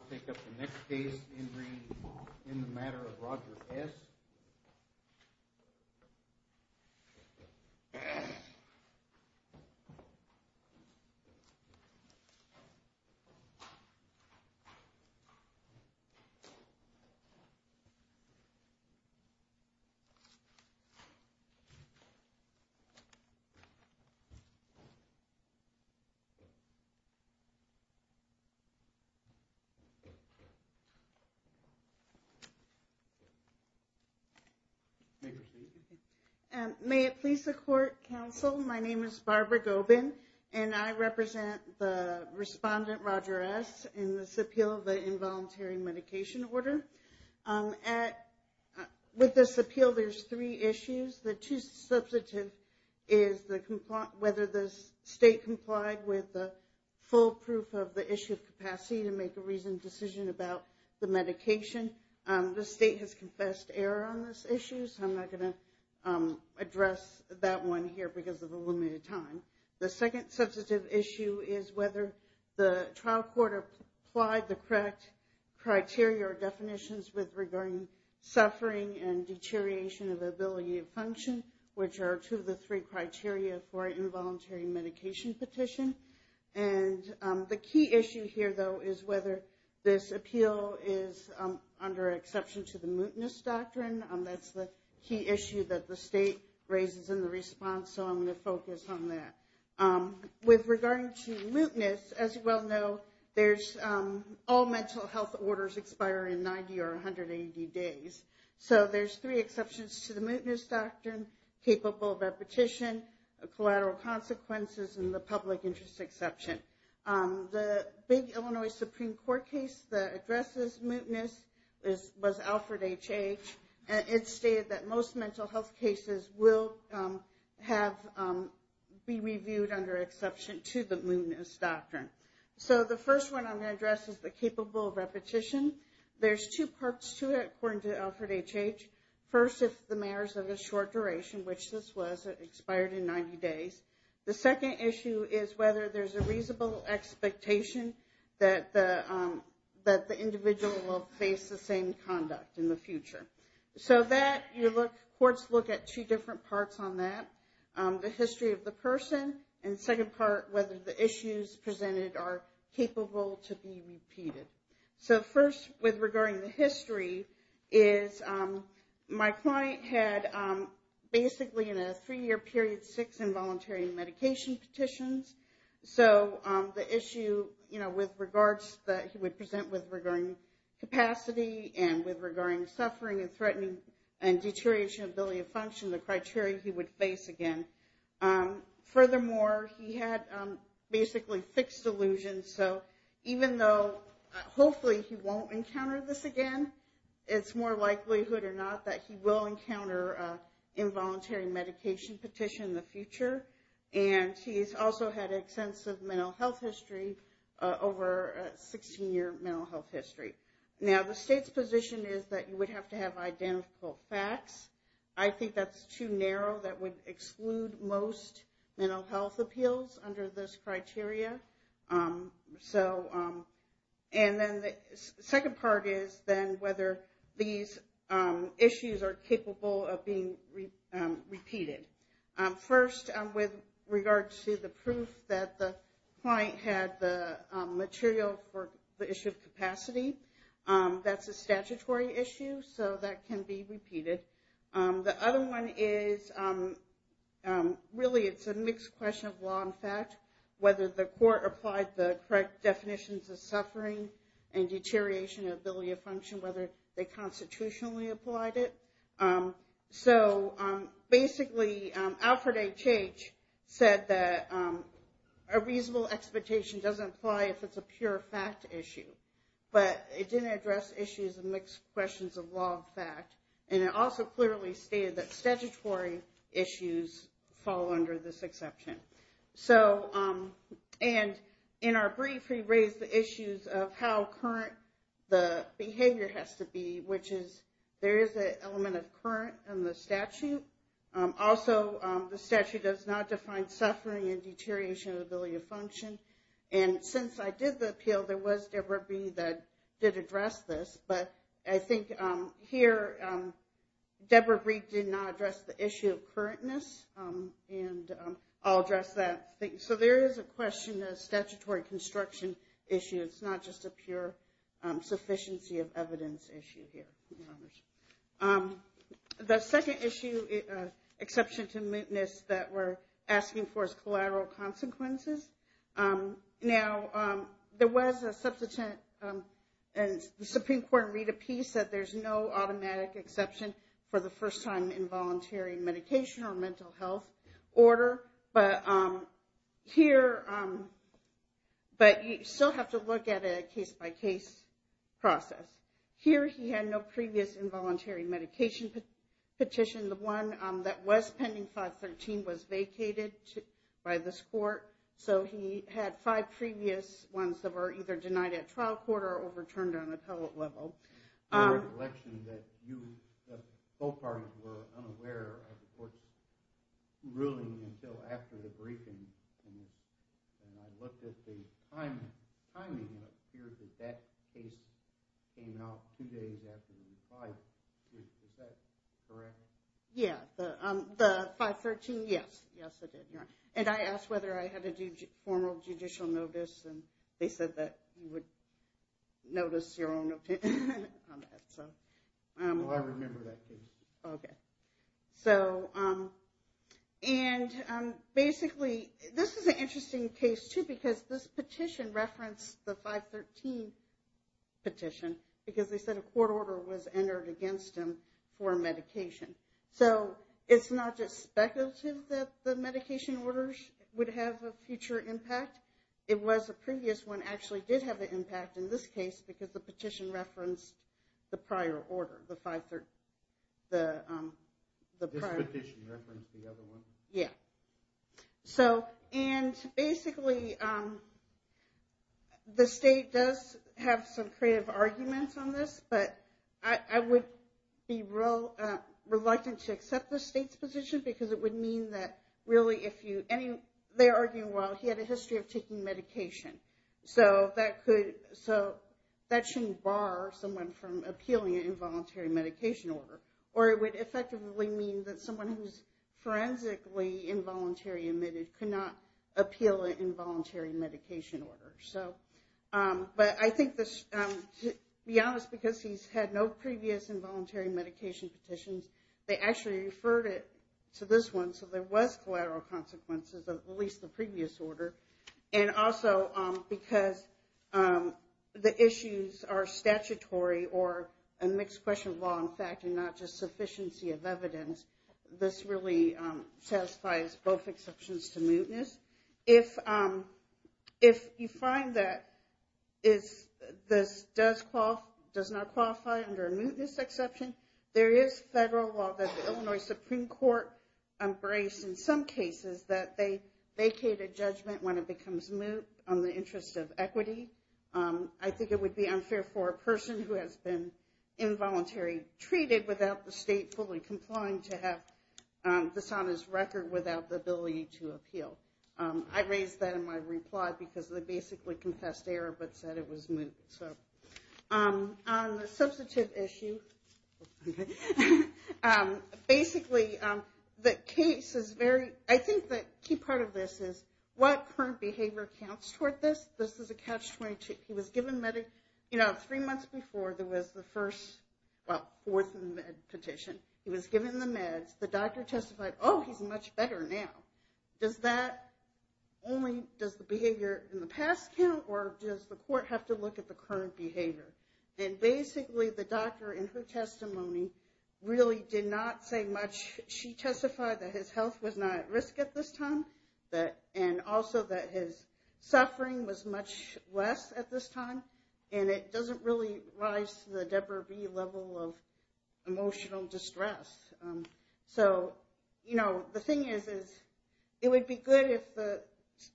I'll take up the next case in the matter of Roger S. May it please the court, counsel, my name is Barbara Gobin and I represent the respondent Roger S. in this appeal of the involuntary medication order. With this appeal there's three issues. The two substantive is whether the state complied with the full proof of the issue of capacity to make a reasoned decision about the medication. The state has confessed error on this issue so I'm not going to address that one here because of the limited time. The second substantive issue is whether the trial court applied the correct criteria or definitions with regarding suffering and deterioration of ability of function which are two of the three criteria for involuntary medication petition. And the key issue here though is whether this appeal is under exception to the mootness doctrine. That's the key issue that the state raises in the response so I'm going to focus on that. With regarding to mootness as you well know there's all mental health orders expire in 90 or 180 days. So there's three exceptions to the mootness doctrine, capable of repetition, collateral consequences and the public interest exception. The big Illinois Supreme Court case that addresses mootness was Alfred H.H. and it stated that most mental health cases will be reviewed under exception to the mootness doctrine. So the first one I'm going to address is the First if the merits of a short duration which this was expired in 90 days. The second issue is whether there's a reasonable expectation that the individual will face the same conduct in the future. So that you look, courts look at two different parts on that. The history of the person and second part whether the issues presented are capable to be repeated. So first with regarding the history is my client had basically in a three year period six involuntary medication petitions. So the issue you know with regards that he would present with regarding capacity and with regarding suffering and threatening and deterioration ability of function the criteria he would face again. Furthermore he had basically fixed delusions. So even though hopefully he won't encounter this again it's more likelihood or not that he will encounter involuntary medication petition in the future. And he's also had extensive mental health history over a 16 year mental health history. Now the state's position is that you would have to have identical facts. I think that's too narrow that would be the criteria. So and then the second part is then whether these issues are capable of being repeated. First with regards to the proof that the client had the material for the issue of capacity. That's a statutory issue so that can be repeated. The other one is really it's a mixed question of law and fact whether the court applied the correct definitions of suffering and deterioration of ability of function whether they constitutionally applied it. So basically Alfred H. H. said that a reasonable expectation doesn't apply if it's a pure fact issue. But it didn't address issues of mixed questions of law and fact. And it also clearly stated that statutory issues fall under this exception. So and in our brief we raised the issues of how current the behavior has to be which is there is an element of current in the statute. Also the statute does not define suffering and deterioration of ability of function. And since I did the appeal there was Deborah Breed that did address this. But I think here Deborah Breed did not address the issue of currentness and I'll address that. So there is a question of statutory construction issue. It's not just a pure sufficiency of evidence issue here. The second issue exception to mootness that we're asking for is collateral consequences. Now there was a substantive and the Supreme Court in Rita P. said there's no automatic exception for the first time involuntary medication or mental health order. But here but you still have to look at a case by case process. Here he had no previous involuntary medication petition. The one that was pending 513 was vacated by this court. So he had five previous ones that were either denied at trial court or overturned on appellate level. I had a recollection that you both parties were unaware of the court's ruling until after the briefing. And I looked at the timing and it appears that that case came out two days after the five. Is that correct? Yeah the 513 yes. Yes it did. And I asked whether I had to do formal judicial notice and they said that you would notice your own opinion on that. So I remember that case. Okay so and basically this is an interesting case too because this petition referenced the 513 petition because they said a court order was entered against him for medication. So it's not just speculative that the medication orders would have a future impact. It was a previous one actually did have an impact in this case because the petition referenced the prior order the 513. This petition referenced the other one? Yeah. So and basically um the state does have some creative arguments on this but I would be real reluctant to accept the state's position because it would mean that really if you any they're arguing well he had a history of taking medication so that could so that shouldn't bar someone from appealing an involuntary medication order or it would effectively mean that someone who's forensically involuntary admitted could not appeal an involuntary medication order. So but I think this to be honest because he's had no previous involuntary medication petitions they actually referred it to this one so there was collateral consequences of at least the previous order and also because the issues are statutory or a mixed question law in fact and not just both exceptions to mootness. If you find that is this does not qualify under a mootness exception there is federal law that the Illinois Supreme Court embraced in some cases that they vacated judgment when it becomes moot on the interest of equity. I think it would be unfair for a person who has been involuntary treated without the state fully complying to have this on his record without the ability to appeal. I raised that in my reply because they basically confessed error but said it was moot. So on the substantive issue basically the case is very I think that key part of this is what current behavior counts toward this this is a catch-22 he was given medic you know three months before there was the first well fourth med petition he was given the meds the much better now does that only does the behavior in the past count or does the court have to look at the current behavior and basically the doctor in her testimony really did not say much she testified that his health was not at risk at this time that and also that his suffering was much less at this time and it doesn't really rise to the Debra V level of emotional distress. So you know the thing is is it would be good if the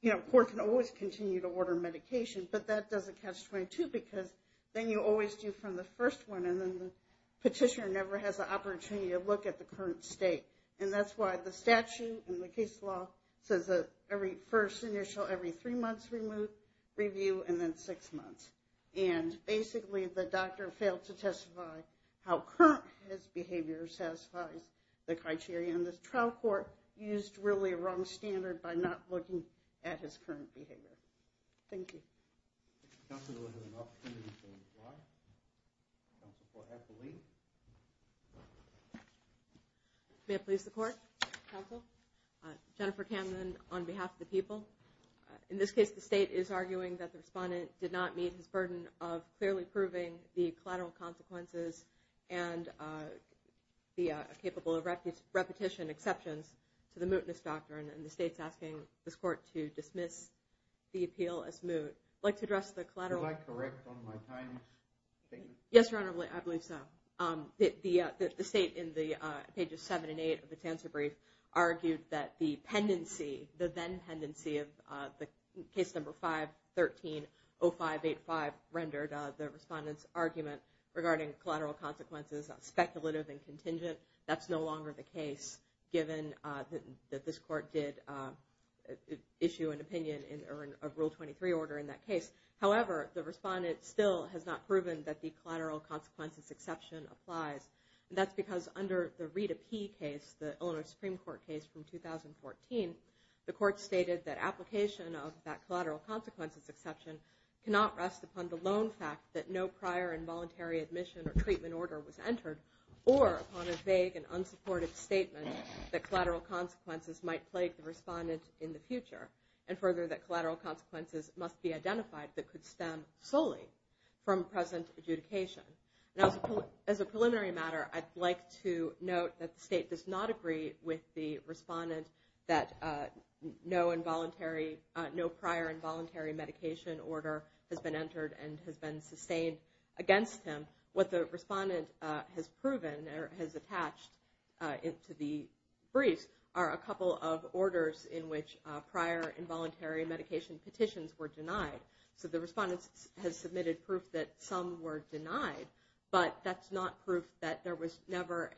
you know court can always continue to order medication but that doesn't catch 22 because then you always do from the first one and then the petitioner never has the opportunity to look at the current state and that's why the statute and the case law says that every first initial every three months remove review and then six and basically the doctor failed to testify how current his behavior satisfies the criteria in this trial court used really a wrong standard by not looking at his current behavior thank you. May I please the court counsel uh Jennifer Camden on behalf of the people in this case the state is arguing that the respondent did not meet his burden of clearly proving the collateral consequences and uh the uh capable of repetition exceptions to the mootness doctrine and the state's asking this court to dismiss the appeal as moot like to address the collateral. Yes your honor I believe so um the uh the state in the uh pages seven and eight and c of uh the case number 513 0585 rendered uh the respondent's argument regarding collateral consequences speculative and contingent that's no longer the case given uh that this court did uh issue an opinion in or in a rule 23 order in that case however the respondent still has not proven that the collateral consequences exception applies and that's because under the Rita P case the Illinois Supreme Court case from 2014 the court stated that application of that collateral consequences exception cannot rest upon the lone fact that no prior involuntary admission or treatment order was entered or upon a vague and unsupportive statement that collateral consequences might plague the respondent in the future and further that collateral consequences must be identified that could stem solely from present adjudication now as a preliminary matter I'd like to note that the state does not agree with the respondent that uh no involuntary uh no prior involuntary medication order has been entered and has been sustained against him what the respondent has proven or has attached uh into the briefs are a couple of orders in which uh prior involuntary medication petitions were denied so the respondent has submitted proof that some were denied but that's not proof that there was never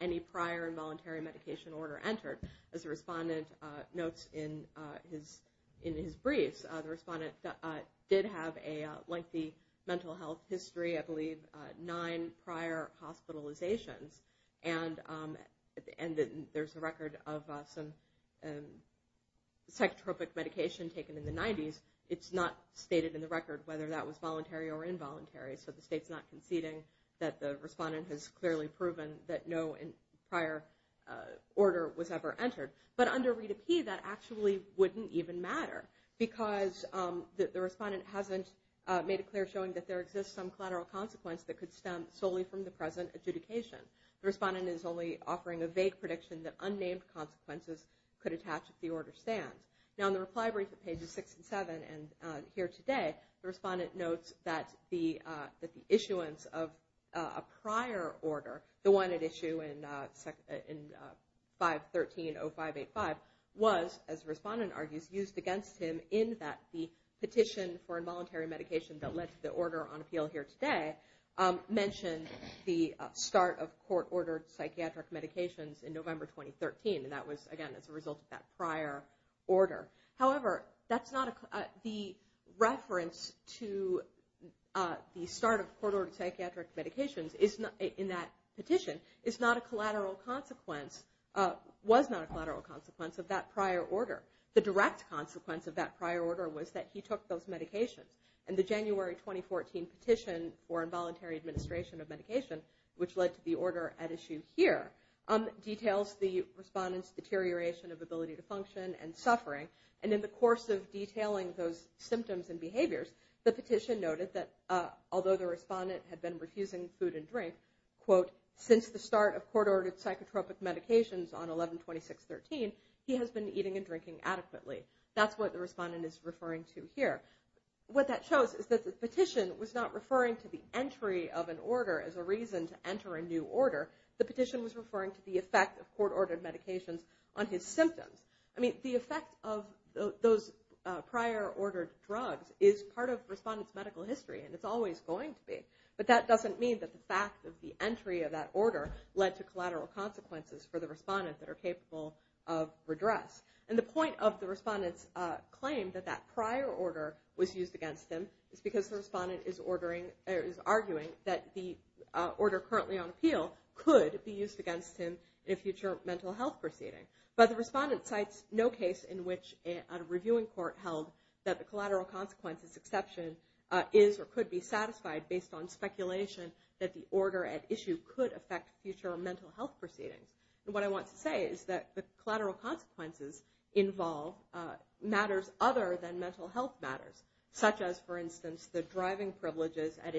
any prior involuntary medication order entered as the respondent uh notes in uh his in his briefs the respondent did have a lengthy mental health history I believe nine prior hospitalizations and um and there's a record of some psychotropic medication taken in the 90s it's not stated in the record whether that was voluntary or involuntary so the state's not conceding that the respondent has clearly proven that no in prior order was ever entered but under read a p that actually wouldn't even matter because um the respondent hasn't uh made it clear showing that there exists some collateral consequence that could stem solely from the present adjudication the respondent is only offering a vague prediction that unnamed consequences could attach if the order stands now in the reply brief at pages six and seven and uh here today the respondent notes that the uh that the issuance of a prior order the one at issue in uh in 513-0585 was as the respondent argues used against him in that the petition for involuntary medication that led to the order on appeal here today um mentioned the start of court-ordered psychiatric medications in November 2013 and that was again as a result of prior order however that's not a the reference to uh the start of court-ordered psychiatric medications is not in that petition is not a collateral consequence uh was not a collateral consequence of that prior order the direct consequence of that prior order was that he took those medications and the January 2014 petition for involuntary administration of medication which led to the order at issue here um details the respondent's deterioration of ability to function and suffering and in the course of detailing those symptoms and behaviors the petition noted that although the respondent had been refusing food and drink quote since the start of court-ordered psychotropic medications on 11-26-13 he has been eating and drinking adequately that's what the respondent is referring to here what that shows is that the petition was not referring to the entry of an order as a reason to enter a new order the petition was referring to the effect of court-ordered medications on his symptoms i mean the effect of those prior ordered drugs is part of respondents medical history and it's always going to be but that doesn't mean that the fact of the entry of that order led to collateral consequences for the respondent that are capable of redress and the point of the respondent's uh claim that that prior order was used against him is because the respondent is ordering is arguing that the order currently on appeal could be used against him in a future mental health proceeding but the respondent cites no case in which a reviewing court held that the collateral consequences exception is or could be satisfied based on speculation that the order at issue could affect future mental health proceedings and what i want to say is that the collateral consequences involve matters other than mental health matters such as for instance the driving privileges at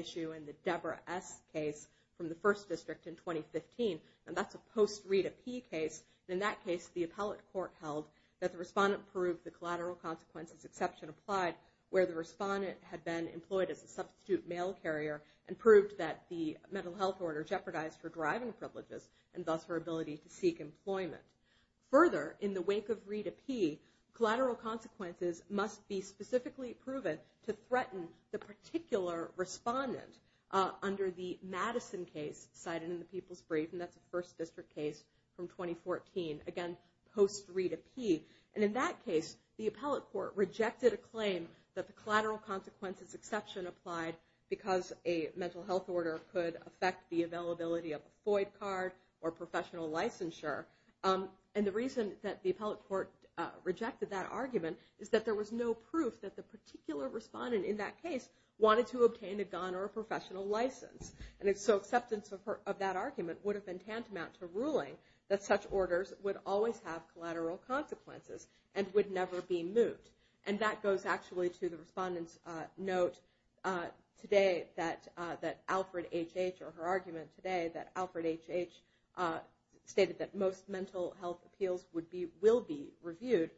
from the first district in 2015 and that's a post read a p case in that case the appellate court held that the respondent proved the collateral consequences exception applied where the respondent had been employed as a substitute mail carrier and proved that the mental health order jeopardized for driving privileges and thus her ability to seek employment further in the wake of read a p collateral consequences must be specifically proven to threaten the particular respondent under the madison case cited in the people's brief and that's a first district case from 2014 again post read a p and in that case the appellate court rejected a claim that the collateral consequences exception applied because a mental health order could affect the availability of a foid card or professional licensure and the reason that the appellate court rejected that professional license and it's so acceptance of her of that argument would have been tantamount to ruling that such orders would always have collateral consequences and would never be moved and that goes actually to the respondents uh note uh today that uh that alfred hh or her argument today that alfred hh uh stated that most mental health appeals would be will be reviewed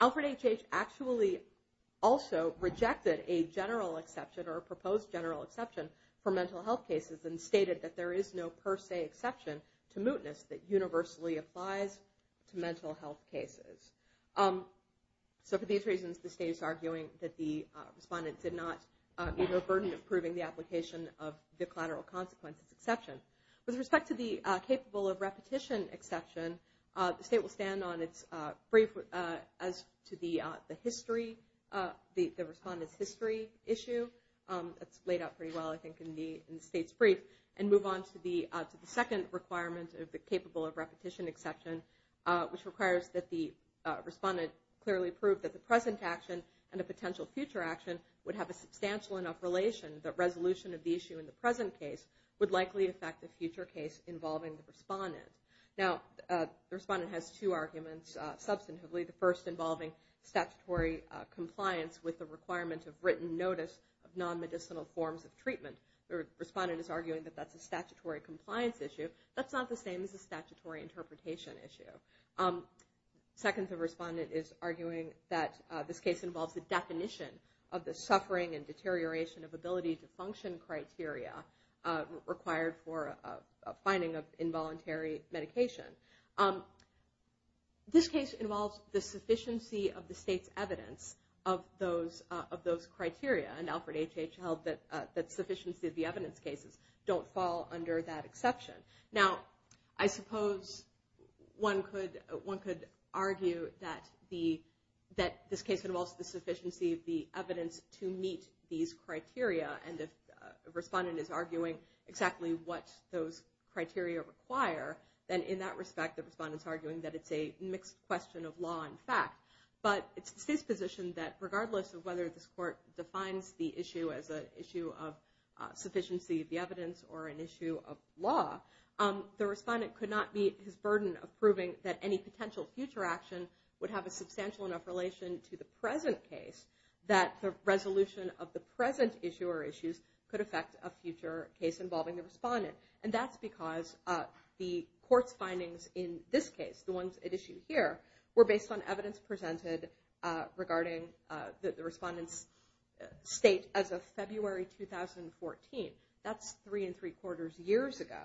alfred hh actually also rejected a general exception or proposed general exception for mental health cases and stated that there is no per se exception to mootness that universally applies to mental health cases um so for these reasons the state is arguing that the respondent did not need a burden of proving the application of the collateral consequences exception with respect to the capable of repetition exception uh the state will stand on its uh brief uh as to the uh the history uh the the respondent's history issue um that's laid out pretty well i think in the in the state's brief and move on to the uh to the second requirement of the capable of repetition exception uh which requires that the uh respondent clearly prove that the present action and a potential future action would have a substantial enough relation that resolution of the issue in the respondent now the respondent has two arguments uh substantively the first involving statutory compliance with the requirement of written notice of non-medicinal forms of treatment the respondent is arguing that that's a statutory compliance issue that's not the same as a statutory interpretation issue um second the respondent is arguing that uh this case involves the definition of the suffering and deterioration of ability to function criteria uh required for a finding of involuntary medication um this case involves the sufficiency of the state's evidence of those uh of those criteria and alfred hh held that that sufficiency of the evidence cases don't fall under that exception now i suppose one could one could argue that the that this case involves the sufficiency of the evidence to meet these criteria and if a respondent is arguing exactly what those criteria require then in that respect the respondents arguing that it's a mixed question of law and fact but it's his position that regardless of whether this court defines the issue as a issue of sufficiency of the evidence or an issue of law um the respondent could not meet his burden of proving that any potential future action would have a substantial enough relation to the present case that the resolution of the present issue or issues could affect a respondent and that's because uh the court's findings in this case the ones at issue here were based on evidence presented uh regarding uh the respondents state as of february 2014 that's three and three quarters years ago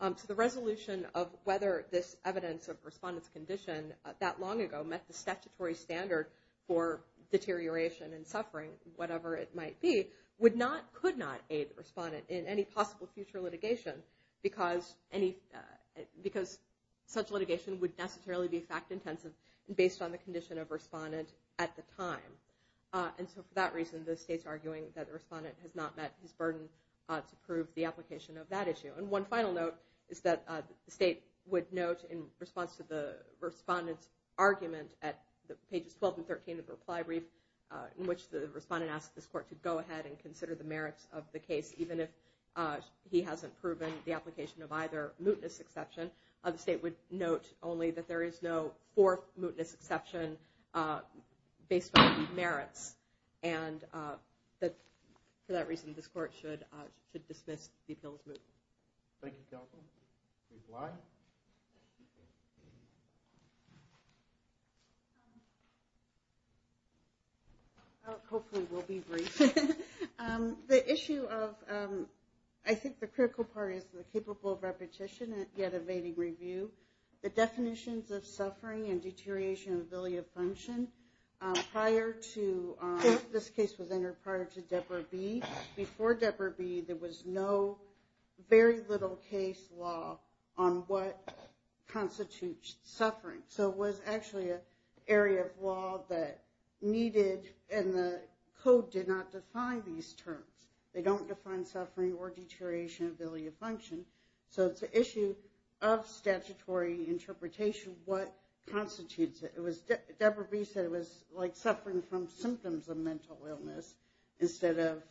um so the resolution of whether this evidence of respondents condition that long ago met the statutory standard for deterioration and suffering whatever it might be would not could not aid respondent in any possible future litigation because any because such litigation would necessarily be fact intensive based on the condition of respondent at the time uh and so for that reason the state's arguing that the respondent has not met his burden to prove the application of that issue and one final note is that the state would note in response to the respondents argument at the pages 12 and 13 of the respondent asked this court to go ahead and consider the merits of the case even if uh he hasn't proven the application of either mootness exception the state would note only that there is no fourth mootness exception uh based on merits and uh that for that reason this court should uh should dismiss the appeals moot thank you careful reply uh hopefully we'll be brief um the issue of um i think the critical part is the capable of repetition and yet evading review the definitions of suffering and deterioration of ability of for deborah b there was no very little case law on what constitutes suffering so it was actually a area of law that needed and the code did not define these terms they don't define suffering or deterioration ability of function so it's an issue of statutory interpretation what constitutes it it was deborah b said it was like suffering from symptoms of mental illness instead of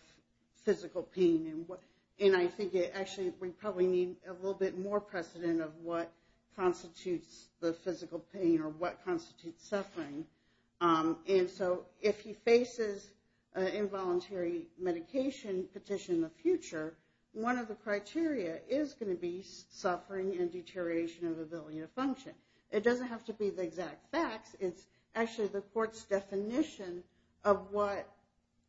physical pain and what and i think it actually we probably need a little bit more precedent of what constitutes the physical pain or what constitutes suffering um and so if he faces an involuntary medication petition in the future one of the criteria is going to be suffering and deterioration of ability to function it doesn't have to be the exact facts it's actually the definition of what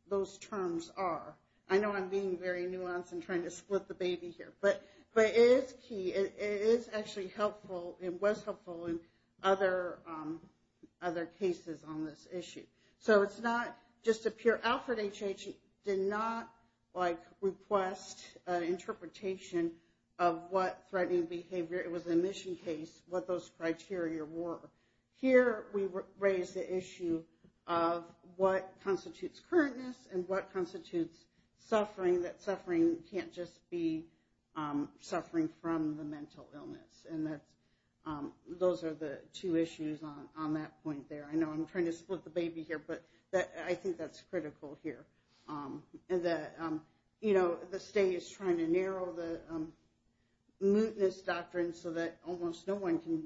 those terms are i know i'm being very nuanced and trying to split the baby here but but it is key it is actually helpful it was helpful in other um other cases on this issue so it's not just a pure alfred hh did not like request an interpretation of what threatening behavior it was a mission case what those criteria were here we raised the issue of what constitutes currentness and what constitutes suffering that suffering can't just be um suffering from the mental illness and that's um those are the two issues on on that point there i know i'm trying to split the baby here but that i think that's critical here um and that um you almost no one can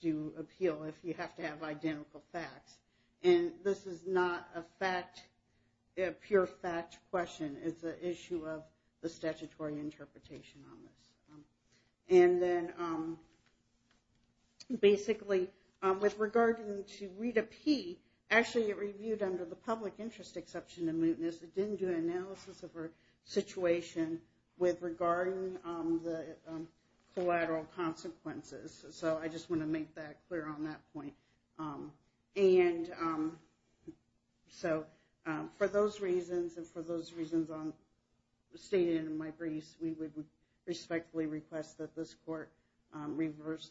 do appeal if you have to have identical facts and this is not a fact a pure fact question it's an issue of the statutory interpretation on this and then um basically um with regarding to read a p actually it reviewed under the public interest exception didn't do analysis of her situation with regarding um the collateral consequences so i just want to make that clear on that point um and um so um for those reasons and for those reasons on stated in my briefs we would respectfully request that this court um reverse the work